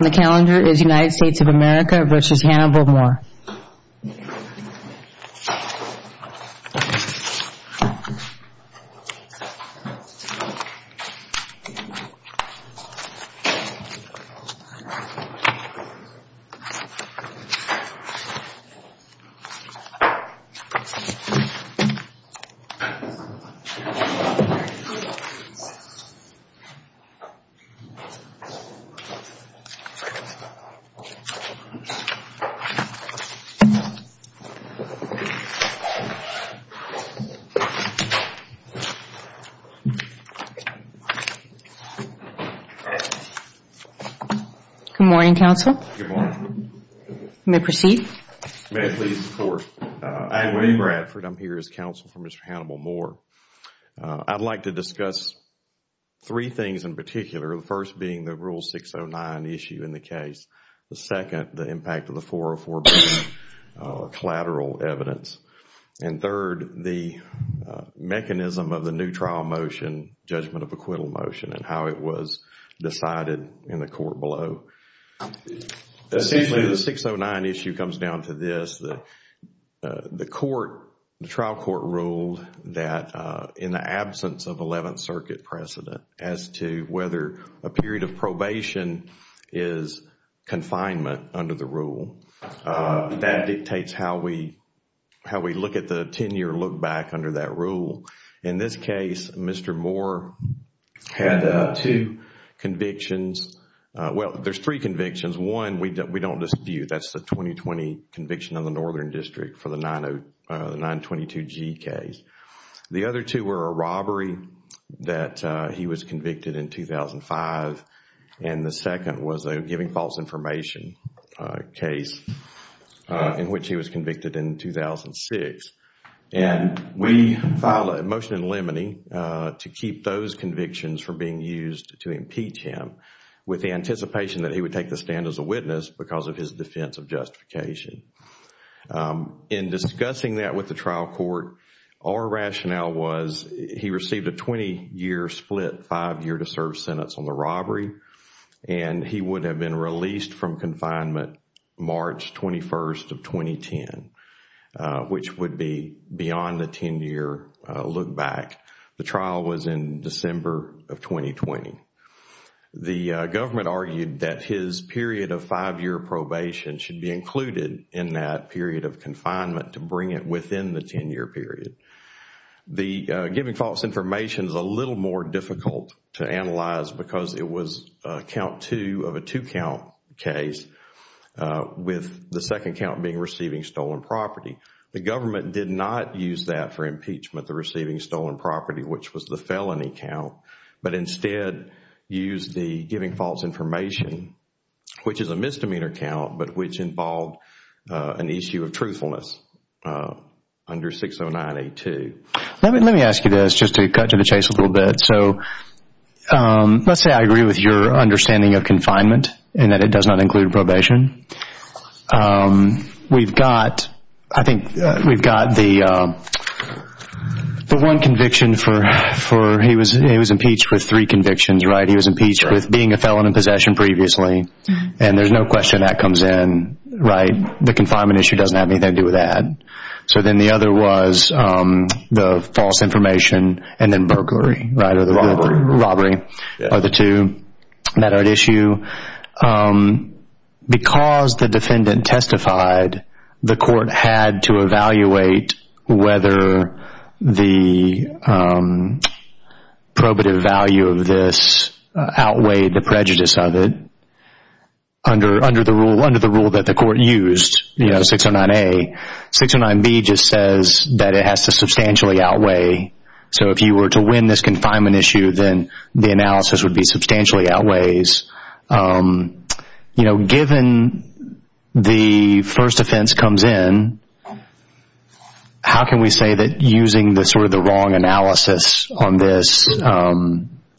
The calendar is United States of America v. Hannibal Moore. I'm here as counsel for Mr. Hannibal Moore. I'd like to discuss three things in particular, the first being the Rule 609 issue in the case, the second, the impact of the 404 bill or collateral evidence, and third, the mechanism of the new trial motion, judgment of acquittal motion and how it was decided in the court below. The 609 issue comes down to this, the court, the trial court ruled that in the absence of 11th Circuit precedent as to whether a period of probation is confinement under the rule. That dictates how we look at the 10-year look back under that rule. In this case, Mr. Moore had two convictions. Well, there's three convictions. One, we don't dispute. That's the 2020 conviction of the Northern District for the 922G case. The other two were a robbery that he was convicted in 2005, and the second was a giving false information case in which he was convicted in 2006. And we file a motion in limine to keep those convictions from being used to impeach him with the anticipation that he would take the stand as a witness because of his defense of justification. In discussing that with the trial court, our rationale was he received a 20-year split, five-year to serve sentence on the robbery, and he would have been released from confinement March 21st of 2010, which would be beyond the 10-year look back. The trial was in December of 2020. The government argued that his period of five-year probation should be included in that period of confinement to bring it within the 10-year period. The giving false information is a little more difficult to analyze because it was a count two of a two-count case with the second count being receiving stolen property. The government did not use that for impeachment, the receiving stolen property, which was the felony count, but instead used the giving false information, which is a misdemeanor count, but which involved an issue of truthfulness under 609A2. Let me ask you this just to cut to the chase a little bit. So, let's say I agree with your understanding of confinement in that it does not include probation. We've got, I think we've got the one conviction for, he was impeached with three convictions, right? He was impeached with being a felon in possession previously, and there's no question that comes in, right? The confinement issue doesn't have anything to do with that. So, then the other was the false information and then burglary, right, or the robbery are the two that are involved in the confinement issue. Because the defendant testified, the court had to evaluate whether the probative value of this outweighed the prejudice of it under the rule that the court used, 609A. 609B just says that it has to substantially outweigh. So, if you were to win this confinement issue, then the analysis would be substantially outweighs. You know, given the first offense comes in, how can we say that using the sort of the wrong analysis on this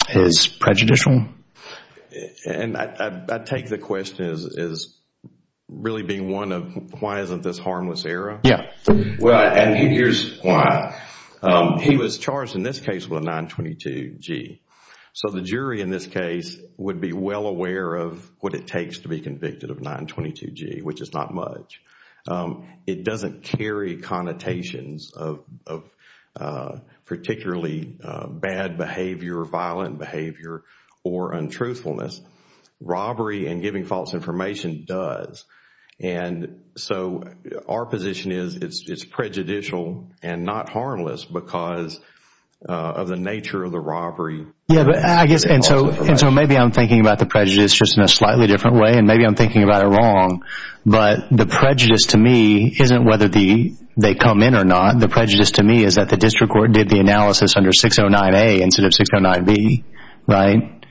is prejudicial? And I take the question as really being one of why isn't this harmless error? Yeah. Well, and here's why. He was charged in this case with a 922G. So, the jury in this case would be well aware of what it takes to be convicted of 922G, which is not much. It doesn't carry connotations of particularly bad behavior, violent behavior, or untruthfulness. Robbery and giving false information does. And so, our position is it's prejudicial and not harmless because of the nature of the robbery. Yeah, but I guess, and so maybe I'm thinking about the prejudice just in a slightly different way and maybe I'm thinking about it wrong. But the prejudice to me isn't whether they come in or not. The prejudice to me is that the district court did the analysis under 609B, right?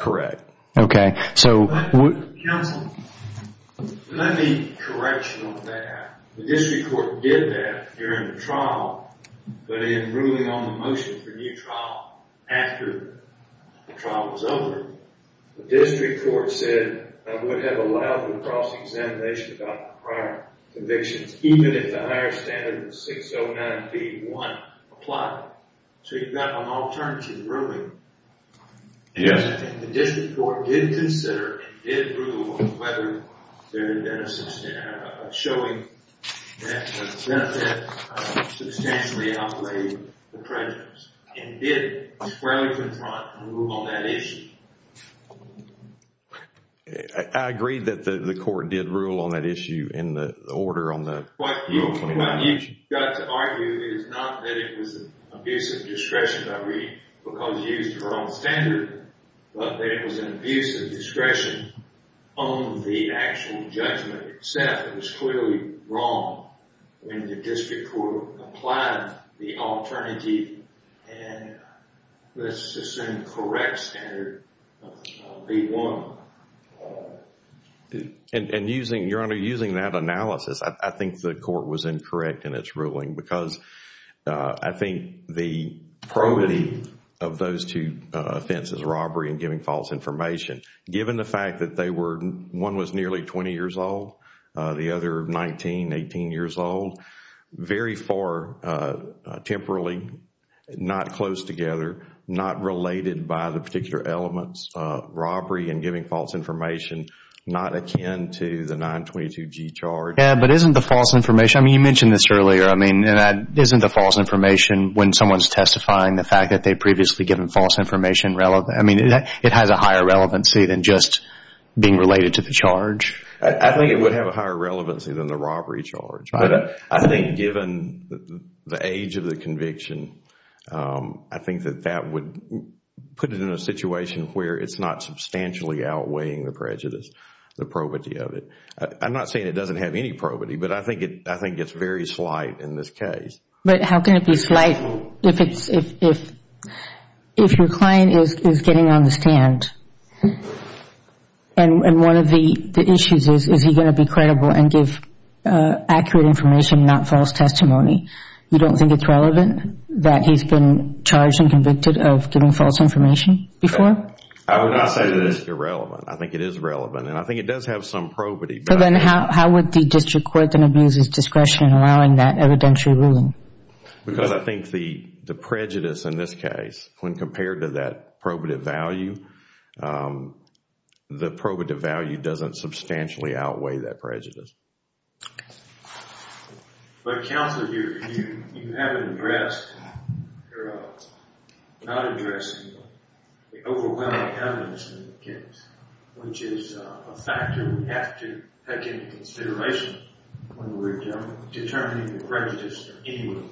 Correct. Okay, so... Counsel, let me correct you on that. The district court did that during the trial, but in ruling on the motion for new trial after the trial was over, the district court said, I would have allowed the cross-examination without the prior convictions, even if the higher standard was 609B-1. So, you've got an alternative ruling. Yes. And the district court did consider and did rule on whether there had been a showing that the benefit substantially outweighed the prejudice and did squarely confront and rule on that issue. I agree that the court did rule on that issue in the order on the ruling. Okay. Okay. Okay. Okay. Okay. Okay. Okay. Okay. Okay. Okay. Okay. Okay. Okay. Okay. Okay. Okay. Okay. Okay. And using, your Honor, using that analysis, I think the court was incorrect in its ruling because I think the probity of those two offenses, robbery and giving false information, given the fact that they were, one was nearly 20 years old, the other 19, 18 years old, very far, temporarily, not close together, not related by the particular elements, robbery and giving false information, not akin to the 922G charge. Yeah, but isn't the false information, I mean, you mentioned this earlier, I mean, isn't the false information, when someone's testifying, the fact that they've previously given false information, I mean, it has a higher relevancy than just being related to the charge? I think it would have a higher relevancy than the robbery charge. I think given the age of the conviction, I think that that would put it in a situation where it's not substantially outweighing the prejudice, the probity of it. I'm not saying it doesn't have any probity, but I think it's very slight in this case. But how can it be slight if your client is getting on the stand and one of the issues is, is he going to be credible and give accurate information, not false testimony? You don't think it's relevant that he's been charged and convicted of giving false information before? I would not say that it's irrelevant. I think it is relevant. I think it does have some probity. Then how would the district court then abuse his discretion in allowing that evidentiary ruling? Because I think the prejudice in this case, when compared to that probative value, the probative value doesn't substantially outweigh that prejudice. But Counselor, you haven't addressed, you're not addressing the overwhelming evidence in the case, which is a factor we have to take into consideration when we're determining the prejudice in England.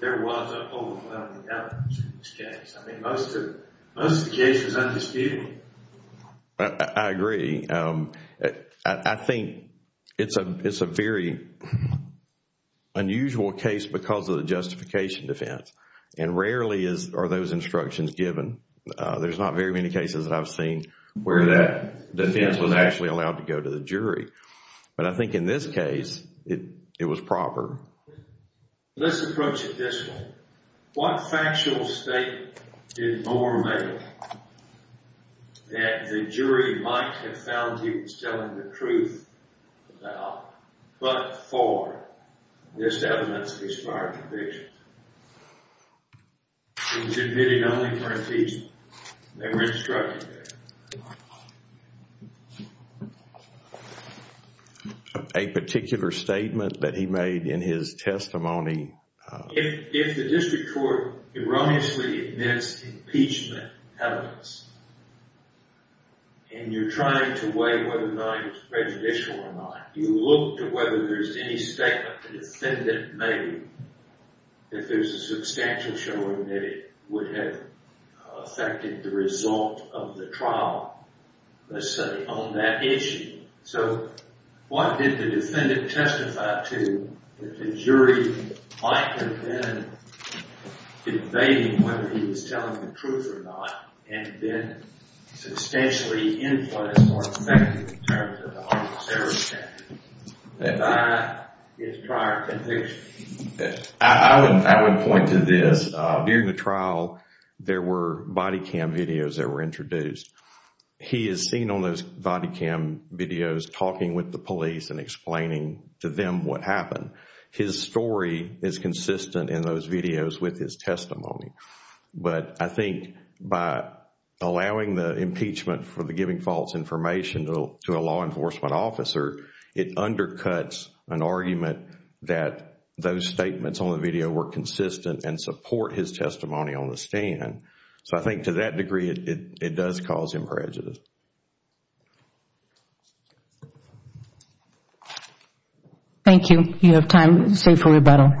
There was an overwhelming evidence in this case. I mean, most of the case is undisputed. I agree. I think it's a very unusual case because of the justification defense. Rarely are those instructions given. There's not very many cases that I've seen where that defense was actually allowed to go to the jury. But I think in this case, it was proper. Let's approach it this way. What factual statement did Moore make that the jury might have found he was telling the truth about but for this evidence of expired convictions? It was admitted only for a thesis. There were instructions there. A particular statement that he made in his testimony. If the district court erroneously admits impeachment evidence and you're trying to weigh whether or not it was prejudicial or not, you look to whether there's any statement the defendant made that there's a substantial showing that it would have affected the result of the trial, let's say, on that issue. So, what did the defendant testify to that the jury might have been debating whether he was telling the truth or not and then substantially influenced or affected in terms of the arbitrary statute? That is prior conviction. I would point to this. During the trial, there were body cam videos that were introduced. He is seen on those body cam videos talking with the police and explaining to them what happened. His story is consistent in those videos with his testimony. But I think by allowing the impeachment for giving false information to a law enforcement officer, it undercuts an argument that those statements on the video were consistent and support his testimony on the stand. So, I think to that degree, it does cause him prejudice. Thank you. You have time to stay for rebuttal.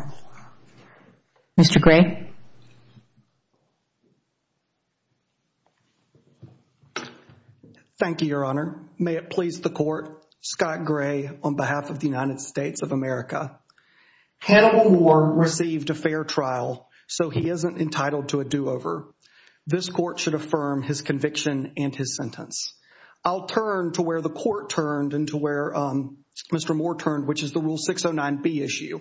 Mr. Gray. Thank you, Your Honor. May it please the court. Scott Gray on behalf of the United States of America. Hannibal Moore received a fair trial, so he isn't entitled to a do-over. This court should affirm his conviction and his sentence. I'll turn to where the court turned and to where Mr. Moore turned, which is the Rule 609B issue,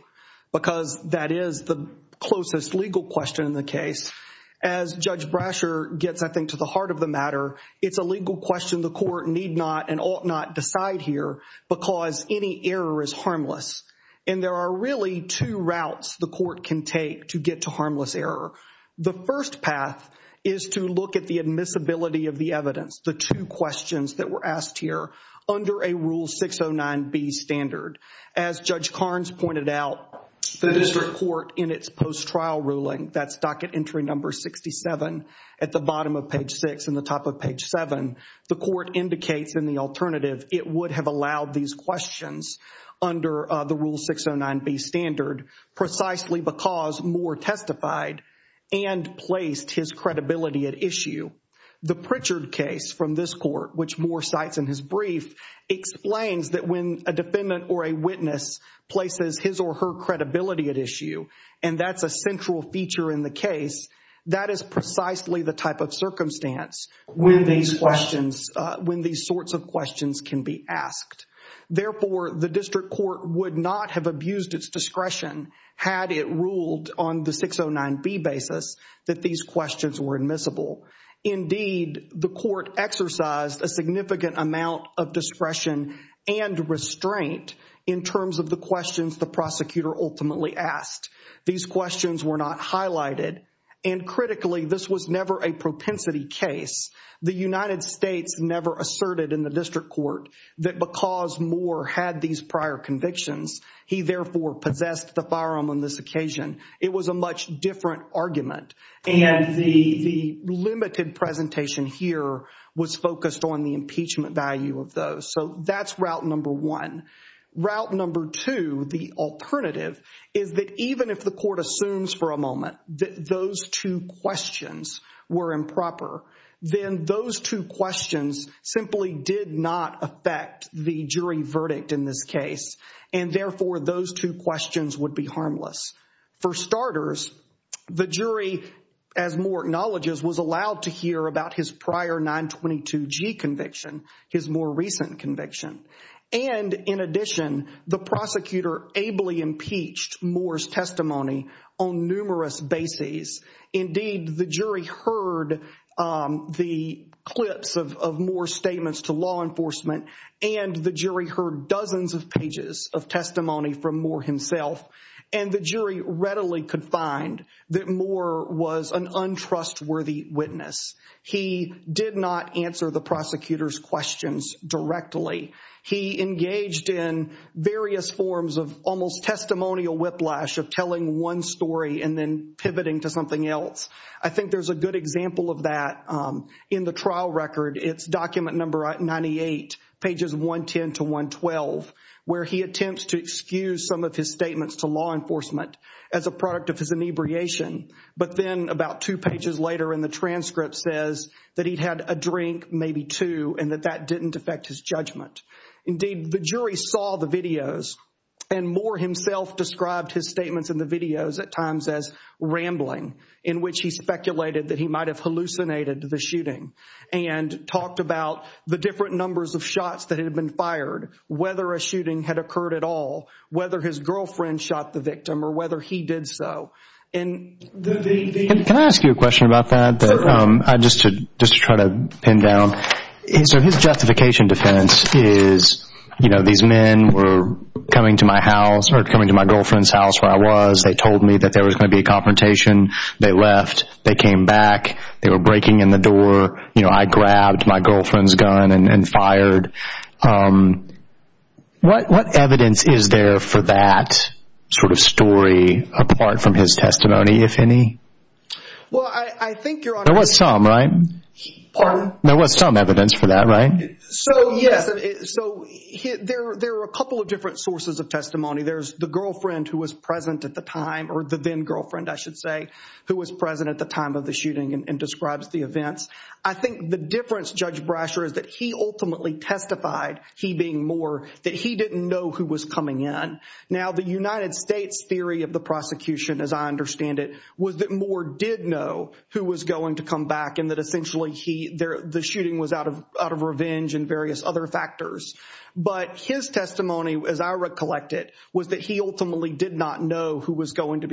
because that is the closest legal question in the case. As Judge Brasher gets, I think, to the heart of the matter, it's a legal question the court need not and ought not decide here because any error is harmless. And there are really two routes the court can take to get to harmless error. The first path is to look at the admissibility of the evidence, the two questions that were asked here under a Rule 609B standard. As Judge Carnes pointed out, the district court in its post-trial ruling, that's docket it would have allowed these questions under the Rule 609B standard precisely because Moore testified and placed his credibility at issue. The Pritchard case from this court, which Moore cites in his brief, explains that when a defendant or a witness places his or her credibility at issue, and that's a central feature in the case, that is precisely the type of circumstance when these questions, when these sorts of questions can be asked. Therefore, the district court would not have abused its discretion had it ruled on the 609B basis that these questions were admissible. Indeed, the court exercised a significant amount of discretion and restraint in terms of the questions the prosecutor ultimately asked. These questions were not highlighted. And critically, this was never a propensity case. The United States never asserted in the district court that because Moore had these prior convictions, he therefore possessed the firearm on this occasion. It was a much different argument. And the limited presentation here was focused on the impeachment value of those. So that's route number one. Route number two, the alternative, is that even if the court assumes for a moment that those two questions were improper, then those two questions simply did not affect the jury verdict in this case. And therefore, those two questions would be harmless. For starters, the jury, as Moore acknowledges, was allowed to hear about his prior 922G conviction, his more recent conviction. And in addition, the prosecutor ably impeached Moore's testimony on numerous bases. Indeed, the jury heard the clips of Moore's statements to law enforcement and the jury heard dozens of pages of testimony from Moore himself. And the jury readily could find that Moore was an untrustworthy witness. He did not answer the prosecutor's questions directly. He engaged in various forms of almost testimonial whiplash of telling one story and then pivoting to something else. I think there's a good example of that in the trial record. It's document number 98, pages 110 to 112, where he attempts to excuse some of his statements to law enforcement as a product of his inebriation. But then about two pages later in the transcript says that he had a drink, maybe two, and that that didn't affect his judgment. Indeed, the jury saw the videos and Moore himself described his statements in the videos at times as rambling, in which he speculated that he might have hallucinated the shooting and talked about the different numbers of shots that had been fired, whether a shooting had occurred at all, whether his girlfriend shot the victim, or whether he did so. Can I ask you a question about that? Sure. Just to try to pin down, so his justification defense is, you know, these men were coming to my house, or coming to my girlfriend's house where I was. They told me that there was going to be a confrontation. They left. They came back. They were breaking in the door. You know, I grabbed my girlfriend's gun and fired. What evidence is there for that sort of story apart from his testimony, if any? Well, I think, Your Honor— There was some, right? Pardon? There was some evidence for that, right? So, yes. So, there are a couple of different sources of testimony. There's the girlfriend who was present at the time, or the then-girlfriend, I should say, who was present at the time of the shooting and describes the events. I think the difference, Judge Brasher, is that he ultimately testified, he being Moore, that he didn't know who was coming in. Now, the United States theory of the prosecution, as I understand it, was that Moore did know who was going to come back and that, essentially, the shooting was out of revenge and various other factors. But his testimony, as I recollected, was that he ultimately did not know who was going to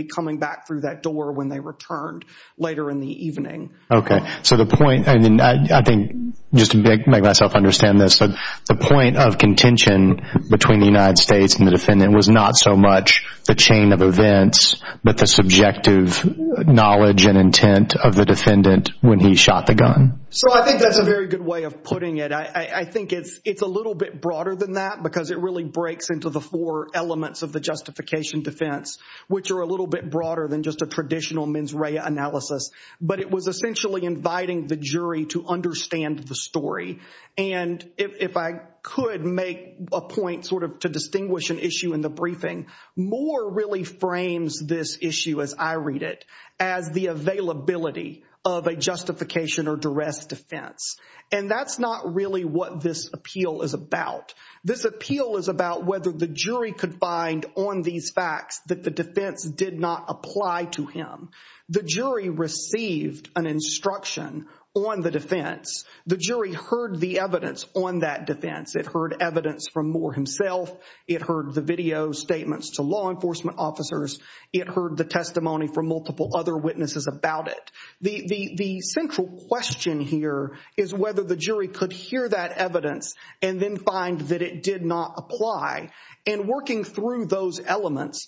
Okay. So, the point—I mean, I think, just to make myself understand this, the point of contention between the United States and the defendant was not so much the chain of events but the subjective knowledge and intent of the defendant when he shot the gun. So, I think that's a very good way of putting it. I think it's a little bit broader than that because it really breaks into the four elements of the justification defense, which are a little bit broader than just a traditional mens rea analysis. But it was essentially inviting the jury to understand the story. And if I could make a point sort of to distinguish an issue in the briefing, Moore really frames this issue, as I read it, as the availability of a justification or duress defense. And that's not really what this appeal is about. This appeal is about whether the jury could find on these facts that the defense did not apply to him. The jury received an instruction on the defense. The jury heard the evidence on that defense. It heard evidence from Moore himself. It heard the video statements to law enforcement officers. It heard the testimony from multiple other witnesses about it. The central question here is whether the jury could hear that evidence and then find that it did not apply. And working through those elements,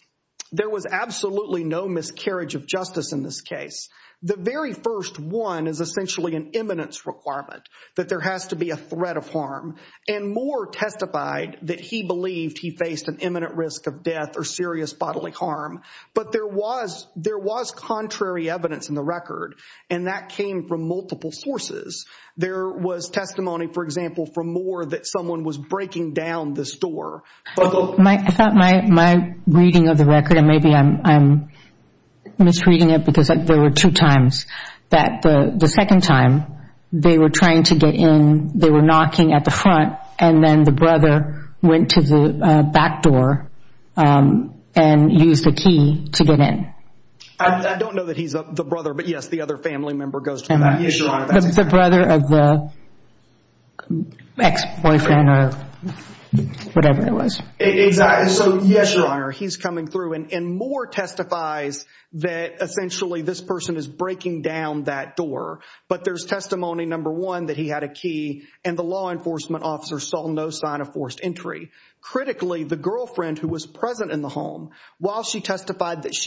there was absolutely no miscarriage of justice in this case. The very first one is essentially an imminence requirement, that there has to be a threat of harm. And Moore testified that he believed he faced an imminent risk of death or serious bodily harm. But there was contrary evidence in the record. And that came from multiple sources. There was testimony, for example, from Moore that someone was breaking down this door, I thought my reading of the record, and maybe I'm misreading it because there were two times, that the second time, they were trying to get in, they were knocking at the front, and then the brother went to the back door and used the key to get in. I don't know that he's the brother, but yes, the other family member goes to the back. The brother of the ex-boyfriend or whatever it was. Exactly. So, yes, Your Honor, he's coming through. And Moore testifies that essentially this person is breaking down that door. But there's testimony, number one, that he had a key and the law enforcement officer saw no sign of forced entry. Critically, the girlfriend who was present in the home, while she testified that she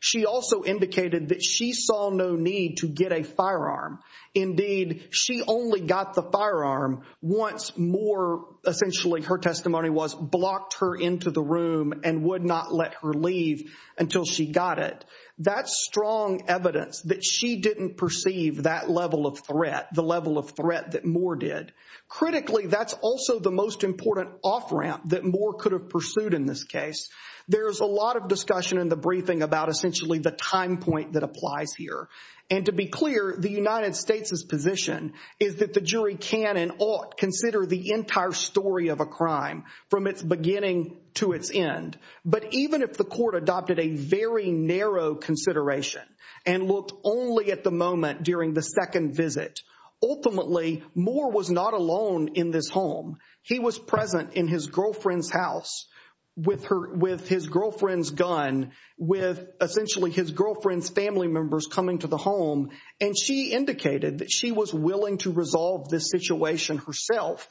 she also indicated that she saw no need to get a firearm. Indeed, she only got the firearm once Moore essentially, her testimony was, blocked her into the room and would not let her leave until she got it. That's strong evidence that she didn't perceive that level of threat, the level of threat that Moore did. Critically, that's also the most important off-ramp that Moore could have pursued in this case. There's a lot of discussion in the briefing about essentially the time point that applies here. And to be clear, the United States' position is that the jury can and ought consider the entire story of a crime from its beginning to its end. But even if the court adopted a very narrow consideration and looked only at the moment during the second visit, ultimately, Moore was not alone in this home. He was present in his girlfriend's house with his girlfriend's gun, with essentially his girlfriend's family members coming to the home, and she indicated that she was willing to resolve this situation herself.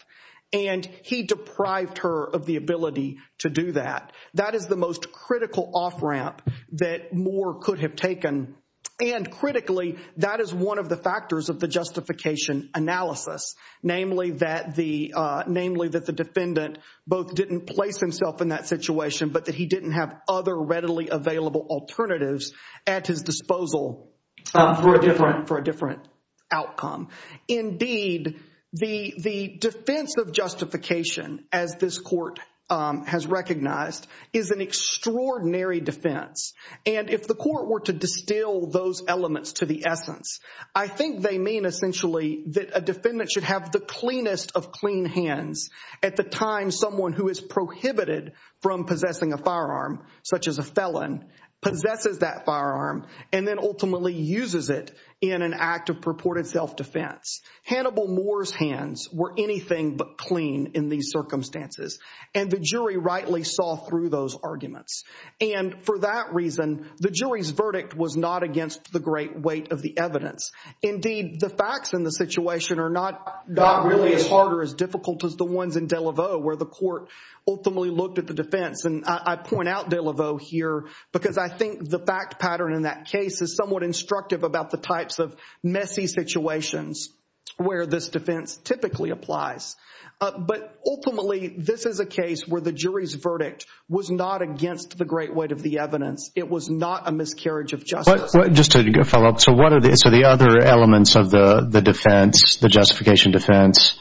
And he deprived her of the ability to do that. That is the most critical off-ramp that Moore could have taken. And critically, that is one of the factors of the justification analysis, namely that the defendant both didn't place himself in that situation but that he didn't have other readily available alternatives at his disposal for a different outcome. Indeed, the defense of justification, as this court has recognized, is an extraordinary defense. And if the court were to distill those elements to the essence, I think they mean essentially that a defendant should have the cleanest of clean hands at the time someone who is prohibited from possessing a firearm, such as a felon, possesses that firearm and then ultimately uses it in an act of purported self-defense. Hannibal Moore's hands were anything but clean in these circumstances, and the jury rightly saw through those arguments. And for that reason, the jury's verdict was not against the great weight of the evidence. Indeed, the facts in the situation are not really as hard or as difficult as the ones in Deleveaux, where the court ultimately looked at the defense. And I point out Deleveaux here because I think the fact pattern in that case is somewhat instructive about the types of messy situations where this defense typically applies. But ultimately, this is a case where the jury's verdict was not against the great weight of the evidence. It was not a miscarriage of justice. Just to follow up, so what are the other elements of the defense, the justification defense?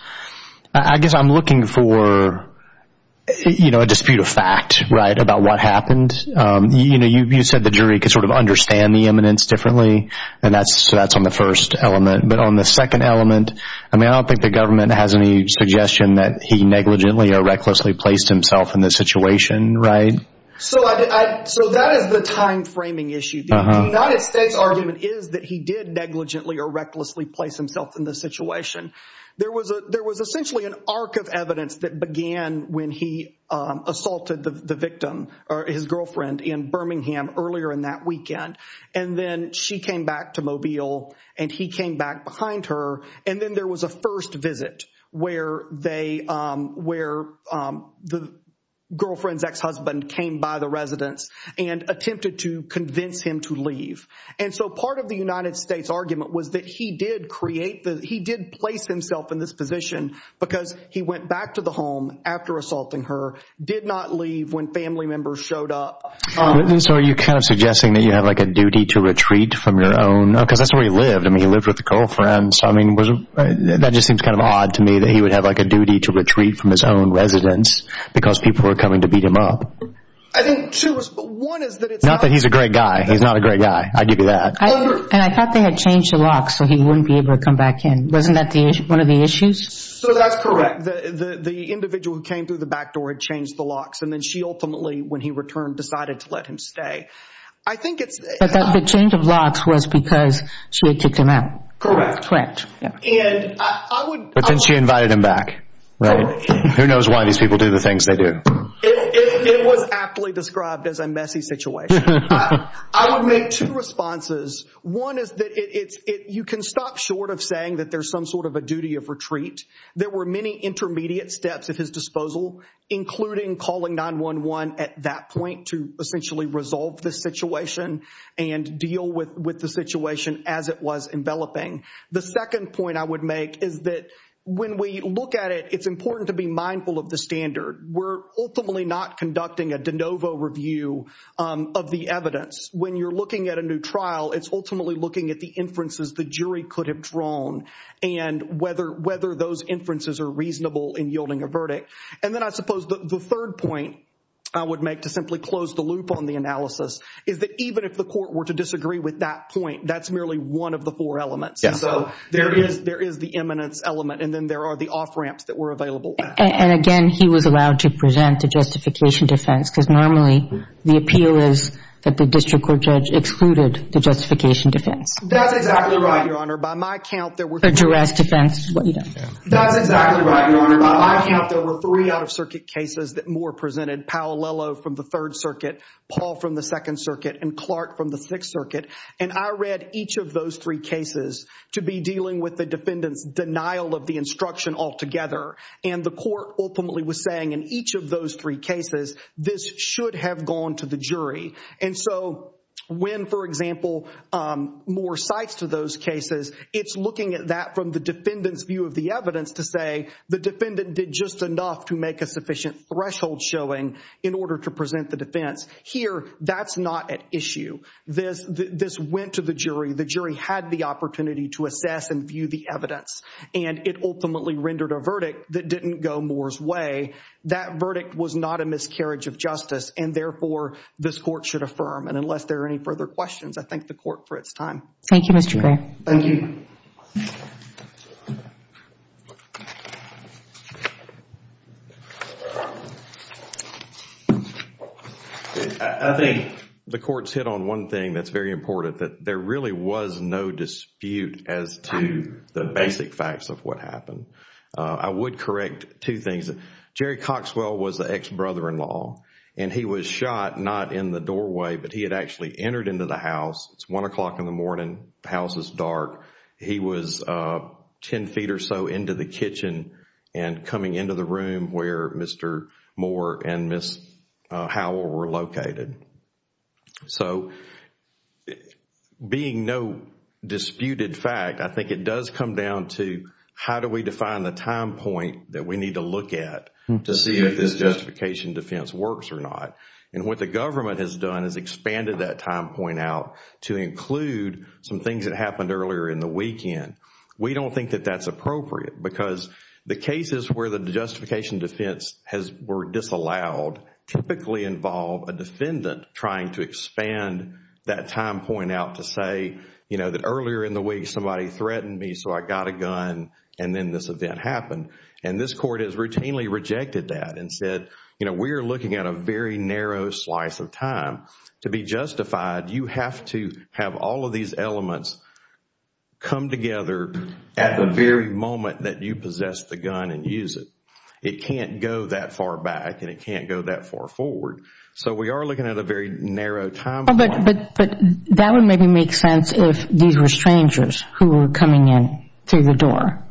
I guess I'm looking for a dispute of fact about what happened. You said the jury could sort of understand the eminence differently, and that's on the first element. But on the second element, I don't think the government has any suggestion that he negligently or recklessly placed himself in this situation, right? So that is the time framing issue. The United States argument is that he did negligently or recklessly place himself in this situation. There was essentially an arc of evidence that began when he assaulted the victim, his girlfriend in Birmingham earlier in that weekend. And then she came back to Mobile, and he came back behind her. And then there was a first visit where the girlfriend's ex-husband came by the residence and attempted to convince him to leave. And so part of the United States argument was that he did place himself in this position because he went back to the home after assaulting her, did not leave when family members showed up. So are you kind of suggesting that you have, like, a duty to retreat from your own— because that's where he lived. I mean, he lived with the girlfriend. So, I mean, that just seems kind of odd to me that he would have, like, a duty to retreat from his own residence because people were coming to beat him up. I think two—one is that it's not— Not that he's a great guy. He's not a great guy. I give you that. And I thought they had changed the locks so he wouldn't be able to come back in. Wasn't that one of the issues? And then she ultimately, when he returned, decided to let him stay. I think it's— But the change of locks was because she had kicked him out. Correct. Correct. And I would— But then she invited him back, right? Who knows why these people do the things they do? It was aptly described as a messy situation. I would make two responses. One is that it's—you can stop short of saying that there's some sort of a duty of retreat. There were many intermediate steps at his disposal, including calling 911 at that point to essentially resolve the situation and deal with the situation as it was enveloping. The second point I would make is that when we look at it, it's important to be mindful of the standard. We're ultimately not conducting a de novo review of the evidence. When you're looking at a new trial, it's ultimately looking at the inferences the jury could have drawn and whether those inferences are reasonable in yielding a verdict. And then I suppose the third point I would make to simply close the loop on the analysis is that even if the court were to disagree with that point, that's merely one of the four elements. So there is the eminence element, and then there are the off-ramps that we're available at. And again, he was allowed to present the justification defense because normally the appeal is that the district court judge excluded the justification defense. That's exactly right, Your Honor. By my count, there were three out-of-circuit cases that Moore presented, Paolello from the Third Circuit, Paul from the Second Circuit, and Clark from the Sixth Circuit. And I read each of those three cases to be dealing with the defendant's denial of the instruction altogether. And the court ultimately was saying in each of those three cases, this should have gone to the jury. And so when, for example, Moore cites to those cases, it's looking at that from the defendant's view of the evidence to say, the defendant did just enough to make a sufficient threshold showing in order to present the defense. Here, that's not at issue. This went to the jury. The jury had the opportunity to assess and view the evidence, and it ultimately rendered a verdict that didn't go Moore's way. That verdict was not a miscarriage of justice, and therefore, this court should affirm. And unless there are any further questions, I thank the court for its time. Thank you, Mr. Gray. Thank you. I think the court's hit on one thing that's very important, that there really was no dispute as to the basic facts of what happened. I would correct two things. Jerry Coxwell was the ex-brother-in-law, and he was shot not in the doorway, but he had actually entered into the house. It's 1 o'clock in the morning. The house is dark. He was 10 feet or so into the kitchen and coming into the room where Mr. Moore and Ms. Howell were located. So, being no disputed fact, I think it does come down to how do we define the time point that we need to look at to see if this justification defense works or not. And what the government has done is expanded that time point out to include some things that happened earlier in the weekend. We don't think that that's appropriate because the cases where the justification defense were disallowed typically involve a defendant trying to expand that time point out to say, you know, that earlier in the week somebody threatened me, so I got a gun, and then this event happened. And this court has routinely rejected that and said, you know, we are looking at a very narrow slice of time. To be justified, you have to have all of these elements come together at the very moment that you possess the gun and use it. It can't go that far back, and it can't go that far forward. So, we are looking at a very narrow time point. But that would maybe make sense if these were strangers who were coming in through the door.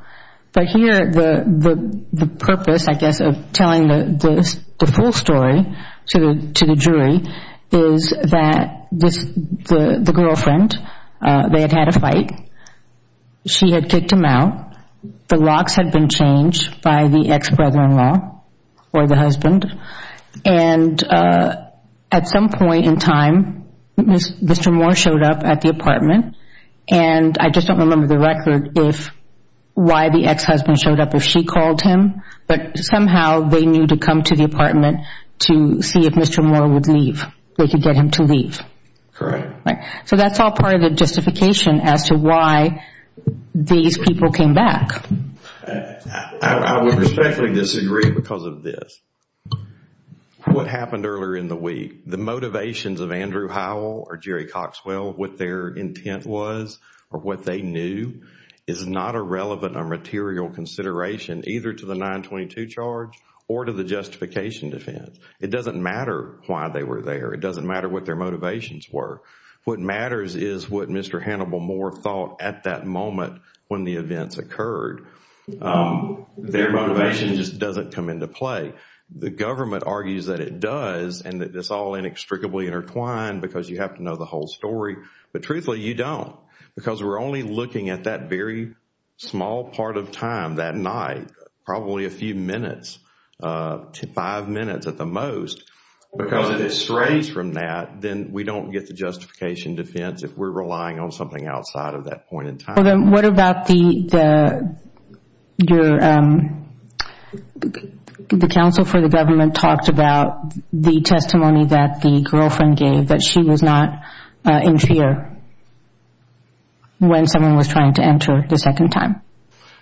But here the purpose, I guess, of telling the full story to the jury is that the girlfriend, they had had a fight. She had kicked him out. The locks had been changed by the ex-brother-in-law or the husband. And at some point in time, Mr. Moore showed up at the apartment. And I just don't remember the record if why the ex-husband showed up if she called him. But somehow they knew to come to the apartment to see if Mr. Moore would leave. They could get him to leave. Correct. So, that's all part of the justification as to why these people came back. I would respectfully disagree because of this. What happened earlier in the week, the motivations of Andrew Howell or Jerry Coxwell, what their intent was or what they knew is not a relevant or material consideration either to the 922 charge or to the justification defense. It doesn't matter why they were there. It doesn't matter what their motivations were. What matters is what Mr. Hannibal Moore thought at that moment when the events occurred. Their motivation just doesn't come into play. The government argues that it does and that it's all inextricably intertwined because you have to know the whole story. But truthfully, you don't because we're only looking at that very small part of time, that night, probably a few minutes, five minutes at the most. Because if it strays from that, then we don't get the justification defense if we're relying on something outside of that point in time. What about the council for the government talked about the testimony that the girlfriend gave that she was not in fear when someone was trying to enter the second time?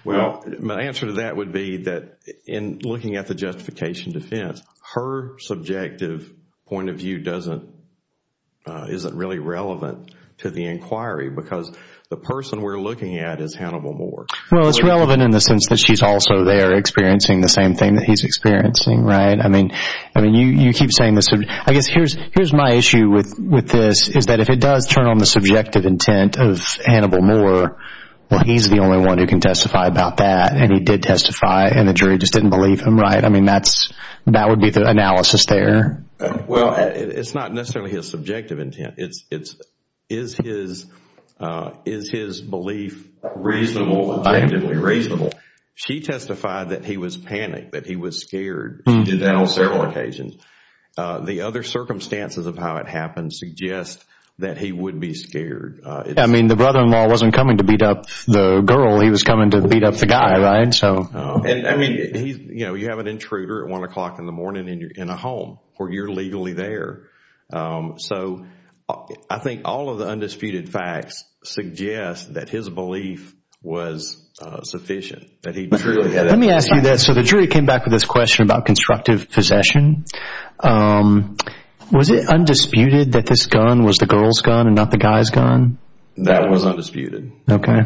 Well, my answer to that would be that in looking at the justification defense, her subjective point of view isn't really relevant to the inquiry because the person we're looking at is Hannibal Moore. Well, it's relevant in the sense that she's also there experiencing the same thing that he's experiencing, right? I mean, you keep saying this. I guess here's my issue with this is that if it does turn on the subjective intent of Hannibal Moore, well, he's the only one who can testify about that and he did testify and the jury just didn't believe him, right? I mean, that would be the analysis there. Well, it's not necessarily his subjective intent. Is his belief reasonable, objectively reasonable? She testified that he was panicked, that he was scared. He did that on several occasions. The other circumstances of how it happened suggest that he would be scared. I mean, the brother-in-law wasn't coming to beat up the girl. He was coming to beat up the guy, right? I mean, you have an intruder at 1 o'clock in the morning in a home where you're legally there. So I think all of the undisputed facts suggest that his belief was sufficient. Let me ask you this. So the jury came back with this question about constructive possession. Was it undisputed that this gun was the girl's gun and not the guy's gun? That was undisputed. Okay.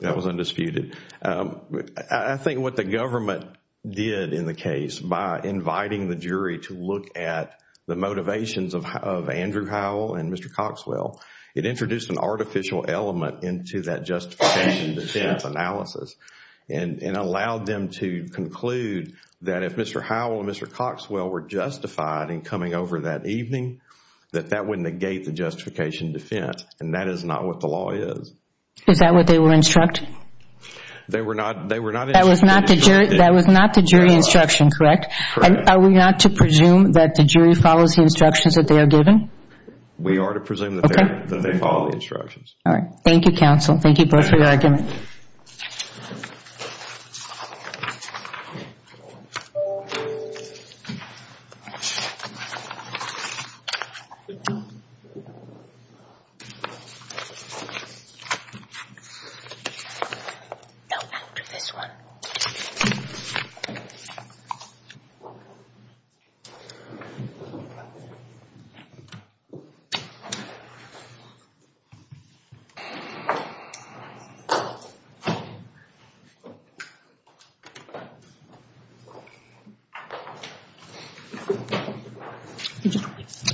That was undisputed. I think what the government did in the case by inviting the jury to look at the motivations of Andrew Howell and Mr. Coxwell, it introduced an artificial element into that justification defense analysis and allowed them to conclude that if Mr. Howell and Mr. Coxwell were justified in coming over that evening, that that would negate the justification defense, and that is not what the law is. Is that what they were instructed? They were not instructed. That was not the jury instruction, correct? Correct. Are we not to presume that the jury follows the instructions that they are given? We are to presume that they follow the instructions. All right. Thank you, counsel. Thank you both for your argument. No, after this one.